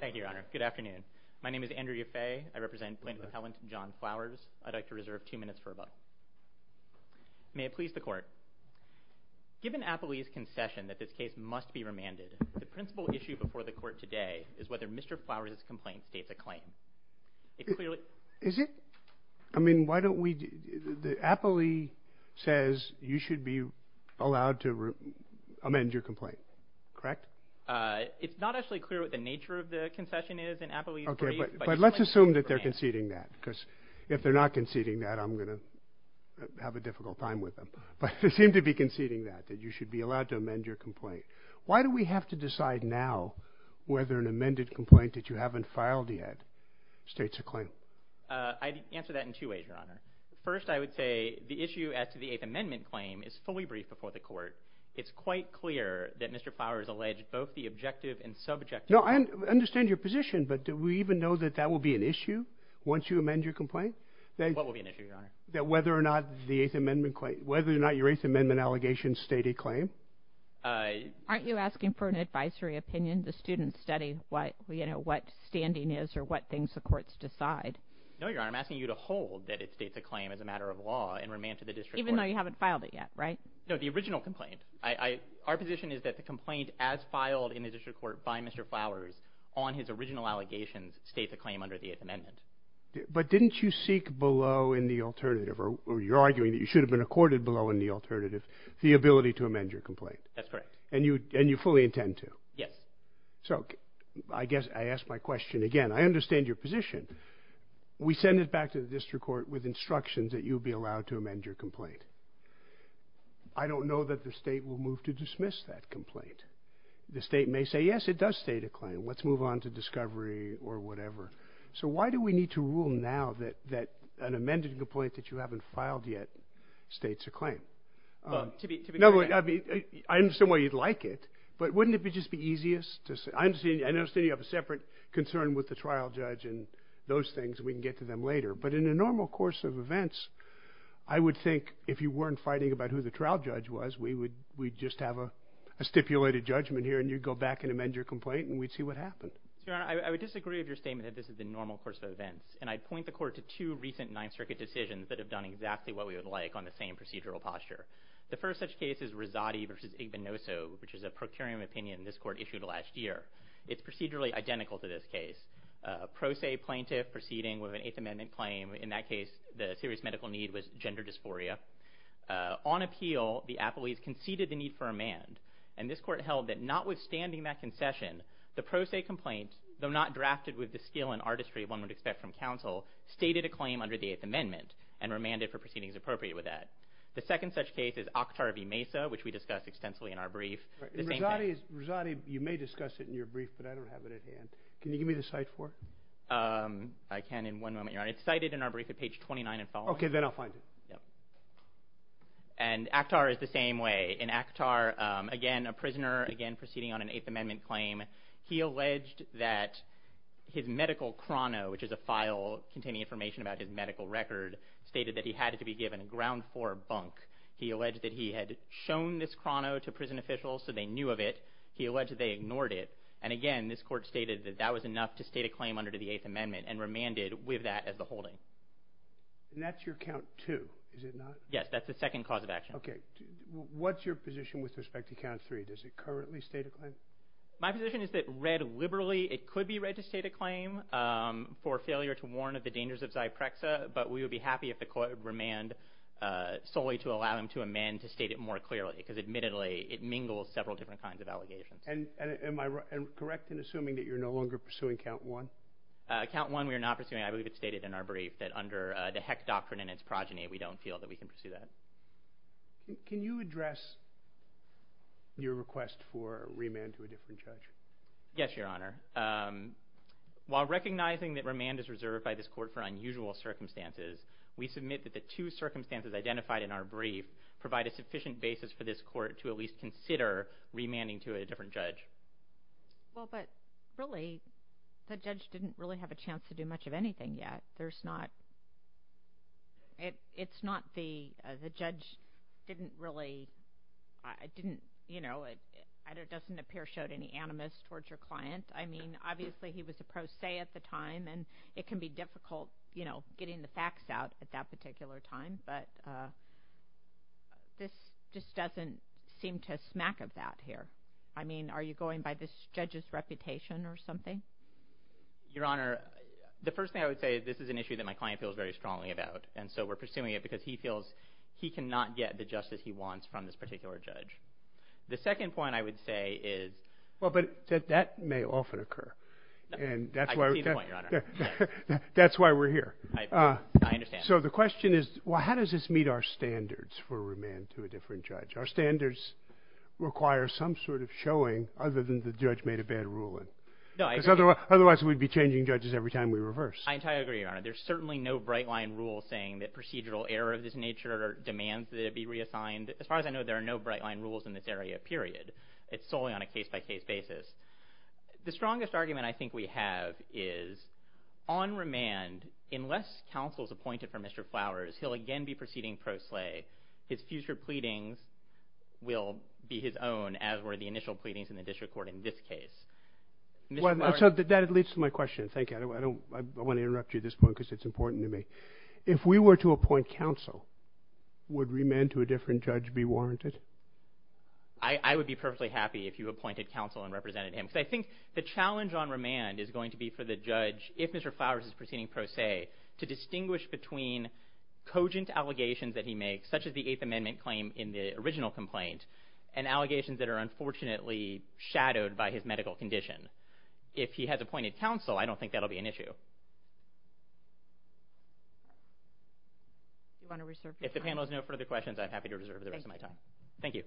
Thank you, Your Honor. Good afternoon. My name is Andrew Yaffe. I represent Plaintiff Appellant John Flowers. I'd like to reserve two minutes for a moment. May it please the Court. Given Apolli's concession that this case must be remanded, the principal issue before the Court today is whether Mr. Flowers' complaint states a claim. Is it? I mean, why don't we... Apolli says you should be allowed to amend your complaint, correct? It's not actually clear what the nature of the concession is in Apolli's brief, but... Okay, but let's assume that they're conceding that, because if they're not conceding that, I'm going to have a difficult time with them. But they seem to be conceding that, that you should be allowed to amend your complaint. Why do we have to decide now whether an amended complaint that you haven't filed yet states a claim? I'd answer that in two ways, Your Honor. First, I would say the issue as to the Eighth Amendment claim is fully briefed before the Court. It's quite clear that Mr. Flowers alleged both the objective and subjective... No, I understand your position, but do we even know that that will be an issue once you amend your complaint? What will be an issue, Your Honor? That whether or not the Eighth Amendment claim, whether or not your Eighth Amendment allegations state a claim. Aren't you asking for an advisory opinion? The students study what, you know, what standing is or what things the courts decide. No, Your Honor, I'm asking you to hold that it states a claim as a matter of law and remand to the district court. Even though you haven't filed it yet, right? No, the original complaint. Our position is that the complaint as filed in the district court by Mr. Flowers on his original allegations states a claim under the Eighth Amendment. But didn't you seek below in the alternative, or you're arguing that you should have been accorded below in the alternative, the ability to amend your complaint? That's correct. And you fully intend to? Yes. So, I guess I ask my question again. I understand your position. We send it back to the district court with instructions that you be allowed to amend your complaint. I don't know that the state will move to dismiss that complaint. The state may say, yes, it does state a claim. Let's move on to discovery or whatever. So, why do we need to rule now that an amended complaint that you haven't filed yet states a claim? To be clear. I understand why you'd like it, but wouldn't it just be easiest? I understand you have a separate concern with the trial judge and those things. We can get to them later. But in a normal course of events, I would think if you weren't fighting about who the trial judge was, we'd just have a stipulated judgment here, and you'd go back and amend your complaint, and we'd see what happens. Your Honor, I would disagree with your statement that this is a normal course of events. And I'd point the court to two recent Ninth Circuit decisions that have done exactly what we would like on the same procedural posture. The first such case is Rosati v. Igbenoso, which is a procuring opinion this court issued last year. It's procedurally identical to this case. A pro se plaintiff proceeding with an Eighth Amendment claim. In that case, the serious medical need was gender dysphoria. On appeal, the appellees conceded the need for amand, and this court held that notwithstanding that concession, the pro se complaint, though not drafted with the skill and artistry one would expect from counsel, stated a claim under the Eighth Amendment and remanded for proceedings appropriate with that. The second such case is Akhtar v. Mesa, which we discussed extensively in our brief. Rosati, you may discuss it in your brief, but I don't have it at hand. Can you give me the cite for it? I can in one moment, Your Honor. It's cited in our brief at page 29 and following. Okay, then I'll find it. Yep. And Akhtar is the same way. In Akhtar, again, a prisoner, again, proceeding on an Eighth Amendment claim, he alleged that his medical chrono, which is a file containing information about his medical record, stated that he had it to be given ground for bunk. He alleged that he had shown this chrono to prison officials so they knew of it. He alleged they ignored it. And, again, this court stated that that was enough to state a claim under the Eighth Amendment and remanded with that as the holding. And that's your count two, is it not? Yes, that's the second cause of action. Okay. What's your position with respect to count three? Does it currently state a claim? My position is that read liberally, it could be read to state a claim for failure to warn of the dangers of Zyprexa, but we would be happy if the court would remand solely to allow him to amend to state it more clearly because, admittedly, it mingles several different kinds of allegations. And am I correct in assuming that you're no longer pursuing count one? Count one we are not pursuing. I believe it's stated in our brief that under the heck doctrine and its progeny, we don't feel that we can pursue that. Can you address your request for remand to a different judge? Yes, Your Honor. While recognizing that remand is reserved by this court for unusual circumstances, we submit that the two circumstances identified in our brief provide a sufficient basis for this court to at least consider remanding to a different judge. Well, but really, the judge didn't really have a chance to do much of anything yet. There's not – it's not the – the judge didn't really – didn't, you know, it doesn't appear showed any animus towards your client. I mean, obviously, he was a pro se at the time, and it can be difficult, you know, getting the facts out at that particular time, but this just doesn't seem to smack a bat here. I mean, are you going by this judge's reputation or something? Your Honor, the first thing I would say is this is an issue that my client feels very strongly about, and so we're pursuing it because he feels he cannot get the justice he wants from this particular judge. The second point I would say is – Well, but that may often occur, and that's why – I see the point, Your Honor. That's why we're here. I understand. So the question is, well, how does this meet our standards for remand to a different judge? Our standards require some sort of showing other than the judge made a bad ruling. No, I agree. Because otherwise we'd be changing judges every time we reverse. I entirely agree, Your Honor. There's certainly no bright-line rule saying that procedural error of this nature demands that it be reassigned. As far as I know, there are no bright-line rules in this area, period. It's solely on a case-by-case basis. The strongest argument I think we have is on remand, unless counsel is appointed for Mr. Flowers, he'll again be proceeding pro slae. His future pleadings will be his own, as were the initial pleadings in the district court in this case. So that leads to my question. Thank you. I want to interrupt you at this point because it's important to me. If we were to appoint counsel, would remand to a different judge be warranted? I would be perfectly happy if you appointed counsel and represented him. I think the challenge on remand is going to be for the judge, if Mr. Flowers is proceeding pro slae, to distinguish between cogent allegations that he makes, such as the Eighth Amendment claim in the original complaint, and allegations that are unfortunately shadowed by his medical condition. If he has appointed counsel, I don't think that'll be an issue. If the panel has no further questions, I'm happy to reserve the rest of my time. Thank you.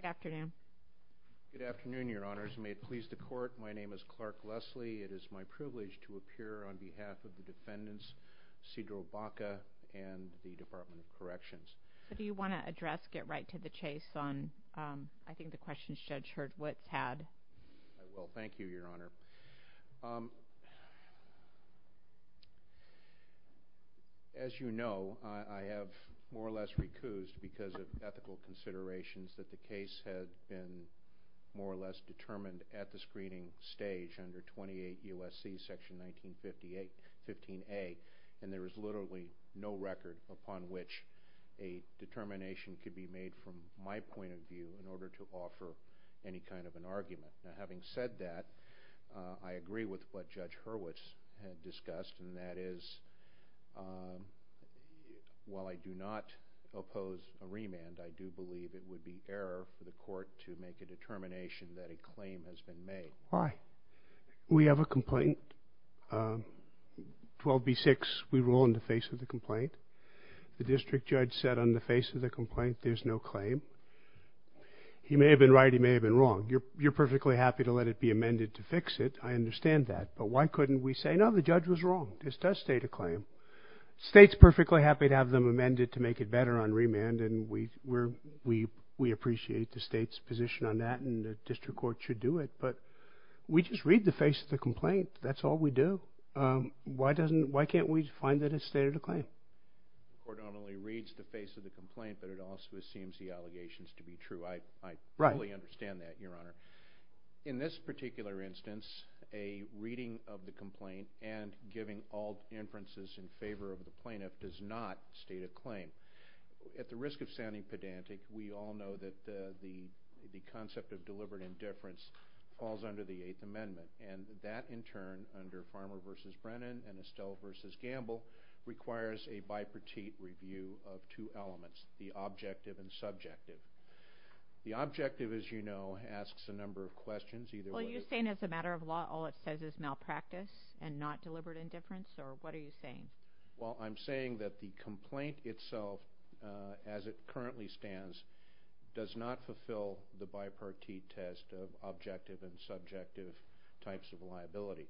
Good afternoon. Good afternoon, Your Honors. May it please the Court, my name is Clark Leslie. It is my privilege to appear on behalf of the defendants, Cedro Baca and the Department of Corrections. Do you want to address, get right to the chase on I think the questions Judge Hurd-Witt had? I will. Thank you, Your Honor. As you know, I have more or less recused because of ethical considerations that the case has been more or less determined at the screening stage under 28 U.S.C. section 1958, 15A, and there is literally no record upon which a determination could be made from my point of view in order to offer any kind of an argument. Now, having said that, I agree with what Judge Hurd-Witt had discussed, and that is while I do not oppose a remand, I do believe it would be error for the Court to make a determination that a claim has been made. Why? We have a complaint, 12B6, we rule in the face of the complaint. The district judge said on the face of the complaint there's no claim. He may have been right, he may have been wrong. You're perfectly happy to let it be amended to fix it. I understand that, but why couldn't we say, no, the judge was wrong. This does state a claim. The state's perfectly happy to have them amended to make it better on remand, and we appreciate the state's position on that, and the district court should do it, but we just read the face of the complaint. That's all we do. Why can't we find that it's stated a claim? The court not only reads the face of the complaint, but it also assumes the allegations to be true. I fully understand that, Your Honor. In this particular instance, a reading of the complaint and giving all inferences in favor of the plaintiff does not state a claim. At the risk of sounding pedantic, we all know that the concept of deliberate indifference falls under the Eighth Amendment, and that, in turn, under Farmer v. Brennan and Estelle v. Gamble, requires a bipartite review of two elements, the objective and subjective. The objective, as you know, asks a number of questions. Well, are you saying as a matter of law all it says is malpractice and not deliberate indifference, or what are you saying? Well, I'm saying that the complaint itself, as it currently stands, does not fulfill the bipartite test of objective and subjective types of liability.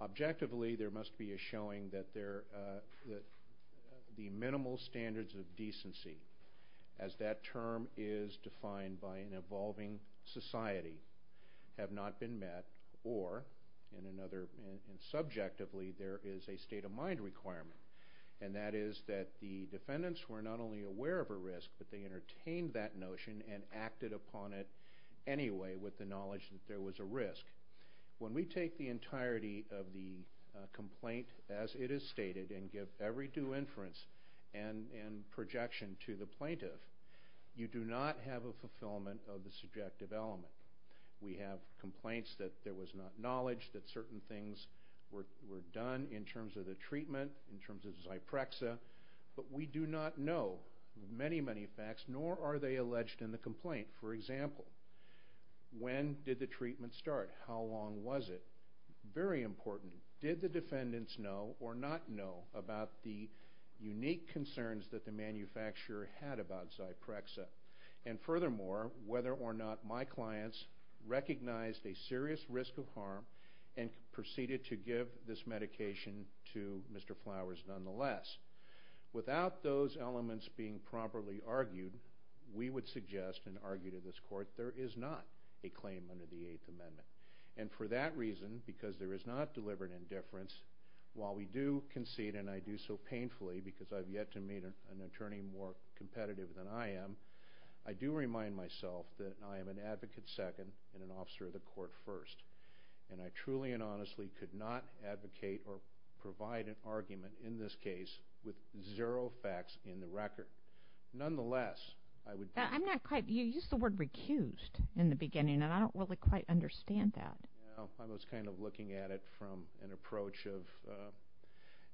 Objectively, there must be a showing that the minimal standards of decency, as that term is defined by an evolving society, have not been met, or, subjectively, there is a state of mind requirement, and that is that the defendants were not only aware of a risk, but they entertained that notion and acted upon it anyway with the knowledge that there was a risk. When we take the entirety of the complaint as it is stated and give every due inference and projection to the plaintiff, you do not have a fulfillment of the subjective element. We have complaints that there was not knowledge, that certain things were done in terms of the treatment, in terms of Zyprexa, but we do not know many, many facts, nor are they alleged in the complaint. For example, when did the treatment start? How long was it? Very important, did the defendants know or not know about the unique concerns that the manufacturer had about Zyprexa? And furthermore, whether or not my clients recognized a serious risk of harm and proceeded to give this medication to Mr. Flowers nonetheless. Without those elements being properly argued, we would suggest and argue to this Court there is not a claim under the Eighth Amendment. And for that reason, because there is not deliberate indifference, while we do concede, and I do so painfully because I have yet to meet an attorney more competitive than I am, I do remind myself that I am an advocate second and an officer of the Court first. And I truly and honestly could not advocate or provide an argument in this case with zero facts in the record. Nonetheless, I would— I'm not quite—you used the word recused in the beginning, and I don't really quite understand that. Well, I was kind of looking at it from an approach of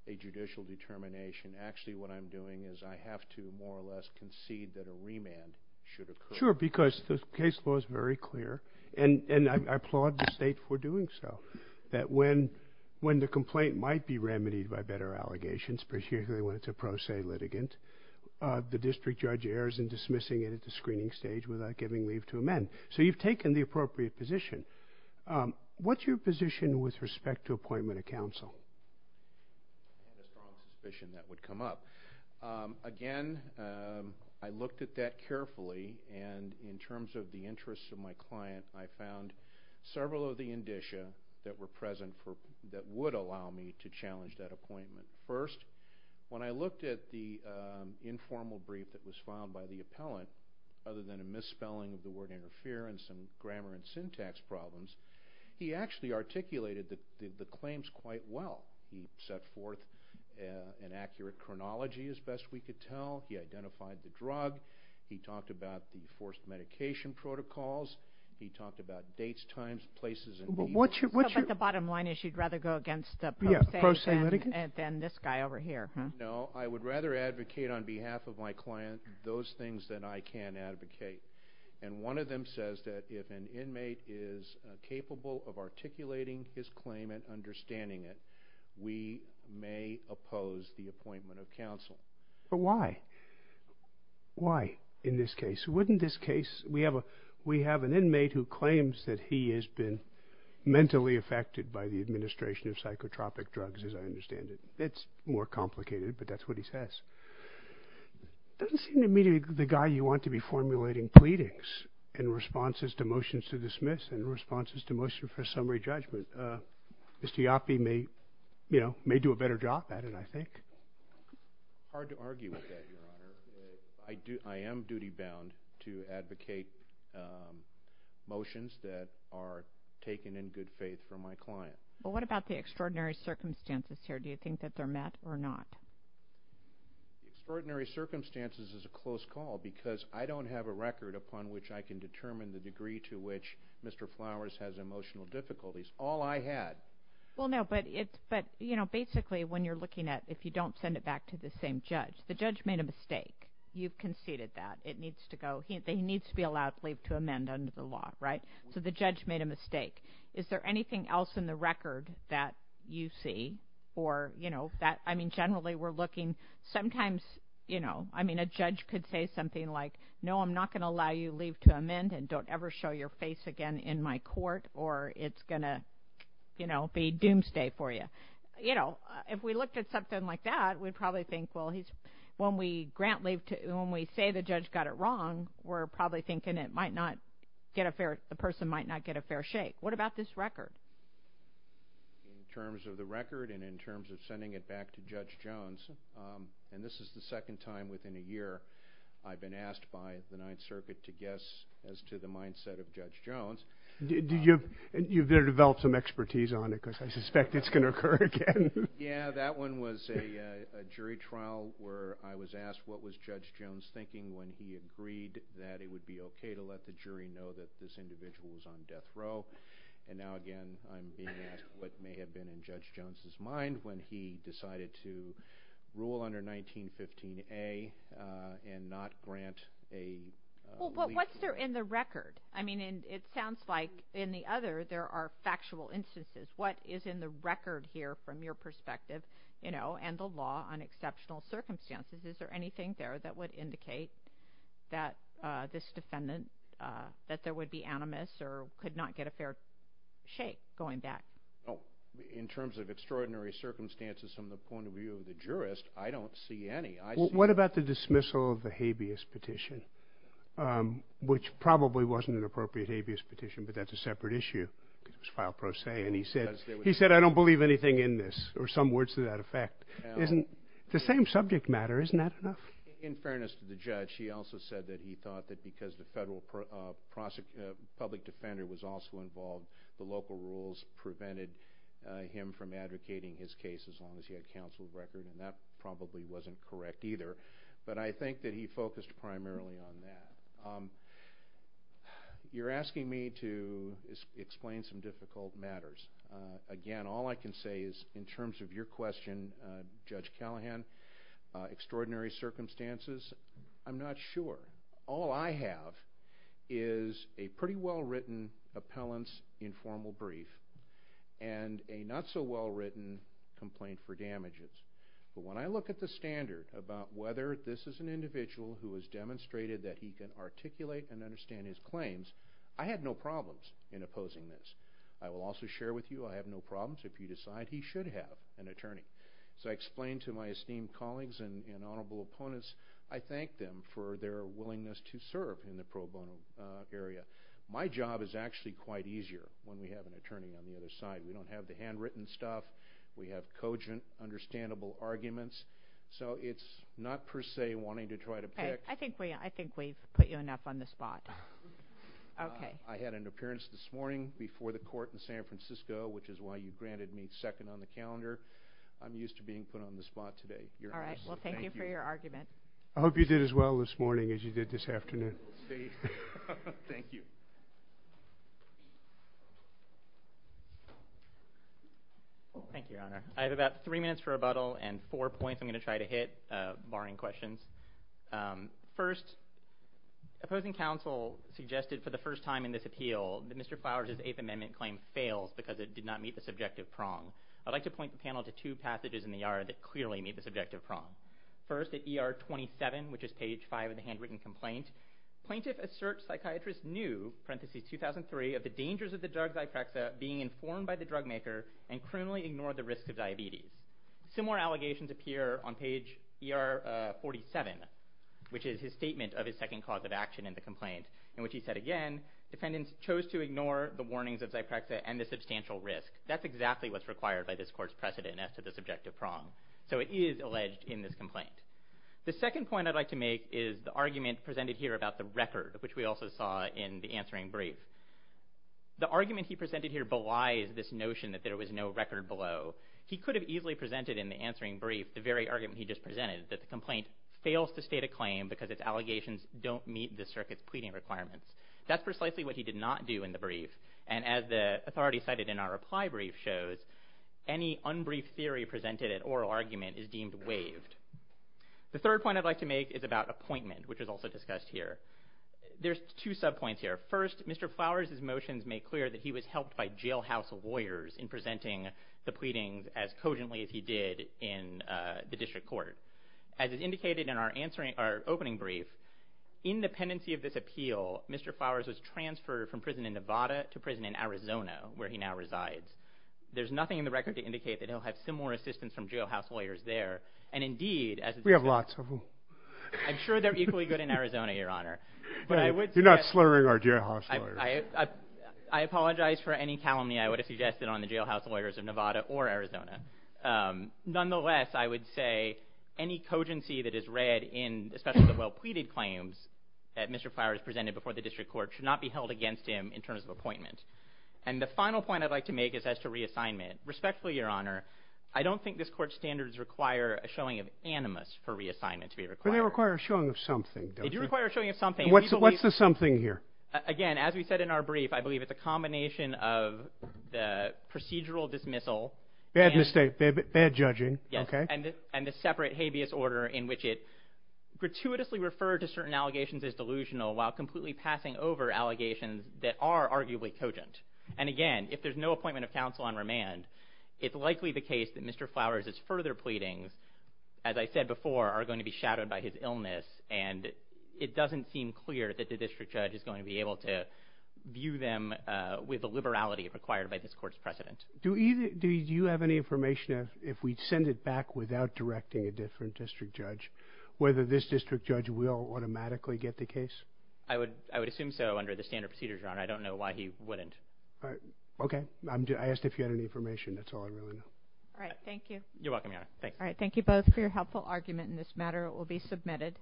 a judicial determination. Actually, what I'm doing is I have to more or less concede that a remand should occur. Well, sure, because the case law is very clear, and I applaud the State for doing so, that when the complaint might be remedied by better allegations, particularly when it's a pro se litigant, the district judge errs in dismissing it at the screening stage without giving leave to amend. So you've taken the appropriate position. What's your position with respect to appointment of counsel? Again, I looked at that carefully. And in terms of the interests of my client, I found several of the indicia that were present that would allow me to challenge that appointment. First, when I looked at the informal brief that was filed by the appellant, other than a misspelling of the word interference and grammar and syntax problems, he actually articulated the claims quite well. He set forth an accurate chronology, as best we could tell. He identified the drug. He talked about the forced medication protocols. He talked about dates, times, places, and details. But the bottom line is you'd rather go against the pro se than this guy over here. No, I would rather advocate on behalf of my client those things than I can advocate. And one of them says that if an inmate is capable of articulating his claim and understanding it, we may oppose the appointment of counsel. But why? Why in this case? Wouldn't this case, we have an inmate who claims that he has been mentally affected by the administration of psychotropic drugs, as I understand it. It's more complicated, but that's what he says. It doesn't seem to me the guy you want to be formulating pleadings in response to motions to dismiss and responses to motions for summary judgment. Mr. Yaffe may do a better job at it, I think. Hard to argue with that, Your Honor. I am duty-bound to advocate motions that are taken in good faith from my client. Well, what about the extraordinary circumstances here? Do you think that they're met or not? Extraordinary circumstances is a close call because I don't have a record upon which I can determine the degree to which Mr. Flowers has emotional difficulties. All I had. Well, no, but basically when you're looking at if you don't send it back to the same judge, the judge made a mistake. You've conceded that. He needs to be allowed to leave to amend under the law, right? So the judge made a mistake. Is there anything else in the record that you see? I mean, generally we're looking. Sometimes a judge could say something like, no, I'm not going to allow you to leave to amend and don't ever show your face again in my court or it's going to be doomsday for you. If we looked at something like that, we'd probably think, well, when we say the judge got it wrong, we're probably thinking the person might not get a fair shake. What about this record? In terms of the record and in terms of sending it back to Judge Jones, and this is the second time within a year I've been asked by the Ninth Circuit to guess as to the mindset of Judge Jones. You've developed some expertise on it because I suspect it's going to occur again. Yeah, that one was a jury trial where I was asked what was Judge Jones thinking when he agreed that it would be okay to let the jury know that this individual was on death row. And now again, I'm being asked what may have been in Judge Jones' mind when he decided to rule under 1915A and not grant a legal… Well, what's there in the record? I mean, it sounds like in the other there are factual instances. What is in the record here from your perspective, you know, and the law on exceptional circumstances, is there anything there that would indicate that this defendant, that there would be animus or could not get a fair shake going back? In terms of extraordinary circumstances from the point of view of the jurist, I don't see any. What about the dismissal of the habeas petition, which probably wasn't an appropriate habeas petition, but that's a separate issue. It was file pro se and he said, I don't believe anything in this or some words to that effect. The same subject matter, isn't that enough? In fairness to the judge, he also said that he thought that because the public defender was also involved, the local rules prevented him from advocating his case as long as he had counsel's record, and that probably wasn't correct either. But I think that he focused primarily on that. You're asking me to explain some difficult matters. Again, all I can say is in terms of your question, Judge Callahan, extraordinary circumstances, I'm not sure. All I have is a pretty well-written appellant's informal brief and a not-so-well-written complaint for damages. But when I look at the standard about whether this is an individual who has demonstrated that he can articulate and understand his claims, I had no problems in opposing this. I will also share with you I have no problems if you decide he should have an attorney. So I explained to my esteemed colleagues and honorable opponents, I thanked them for their willingness to serve in the pro bono area. My job is actually quite easier when we have an attorney on the other side. We don't have the handwritten stuff. We have cogent, understandable arguments. So it's not per se wanting to try to pick. I think we've put you enough on the spot. I had an appearance this morning before the court in San Francisco, which is why you granted me second on the calendar. I'm used to being put on the spot today. All right. Well, thank you for your argument. I hope you did as well this morning as you did this afternoon. Thank you. Thank you, Your Honor. I have about three minutes for rebuttal and four points I'm going to try to hit, barring questions. First, opposing counsel suggested for the first time in this appeal that Mr. Flowers' Eighth Amendment claim fails because it did not meet the subjective prong. I'd like to point the panel to two passages in the ER that clearly meet the subjective prong. First, at ER 27, which is page 5 of the handwritten complaint, plaintiff asserts psychiatrist knew, parenthesis 2003, of the dangers of the drug Zyprexa being informed by the drug maker and cruelly ignored the risk of diabetes. Similar allegations appear on page ER 47, which is his statement of his second cause of action in the complaint, in which he said again, defendants chose to ignore the warnings of Zyprexa and the substantial risk. That's exactly what's required by this court's precedent as to the subjective prong. So it is alleged in this complaint. The second point I'd like to make is the argument presented here about the record, which we also saw in the answering brief. The argument he presented here belies this notion that there was no record below. He could have easily presented in the answering brief the very argument he just presented, that the complaint fails to state a claim because its allegations don't meet the circuit's pleading requirements. That's precisely what he did not do in the brief, and as the authority cited in our reply brief shows, any unbrief theory presented at oral argument is deemed waived. The third point I'd like to make is about appointment, which is also discussed here. There's two subpoints here. First, Mr. Flowers' motions make clear that he was helped by jailhouse lawyers in presenting the pleadings as cogently as he did in the district court. As is indicated in our opening brief, in the pendency of this appeal, Mr. Flowers was transferred from prison in Nevada to prison in Arizona, where he now resides. There's nothing in the record to indicate that he'll have similar assistance from jailhouse lawyers there, and indeed, We have lots of them. I'm sure they're equally good in Arizona, Your Honor. You're not slurring our jailhouse lawyers. I apologize for any calumny I would have suggested on the jailhouse lawyers of Nevada or Arizona. Nonetheless, I would say any cogency that is read, especially the well-pleaded claims that Mr. Flowers presented before the district court, should not be held against him in terms of appointment. The final point I'd like to make is as to reassignment. Respectfully, Your Honor, I don't think this court's standards require a showing of animus for reassignment to be required. They require a showing of something, don't they? They do require a showing of something. What's the something here? Again, as we said in our brief, I believe it's a combination of the procedural dismissal Bad mistake. Bad judging. and the separate habeas order in which it gratuitously referred to certain allegations as delusional while completely passing over allegations that are arguably cogent. And again, if there's no appointment of counsel on remand, it's likely the case that Mr. Flowers' further pleadings, as I said before, are going to be shadowed by his illness, and it doesn't seem clear that the district judge is going to be able to view them with the liberality required by this court's precedent. Do you have any information if we send it back without directing a different district judge, whether this district judge will automatically get the case? I would assume so under the standard procedures, Your Honor. I don't know why he wouldn't. Okay. I asked if you had any information. That's all I really know. All right. Thank you. You're welcome, Your Honor. All right. Thank you both for your helpful argument in this matter. It will be submitted.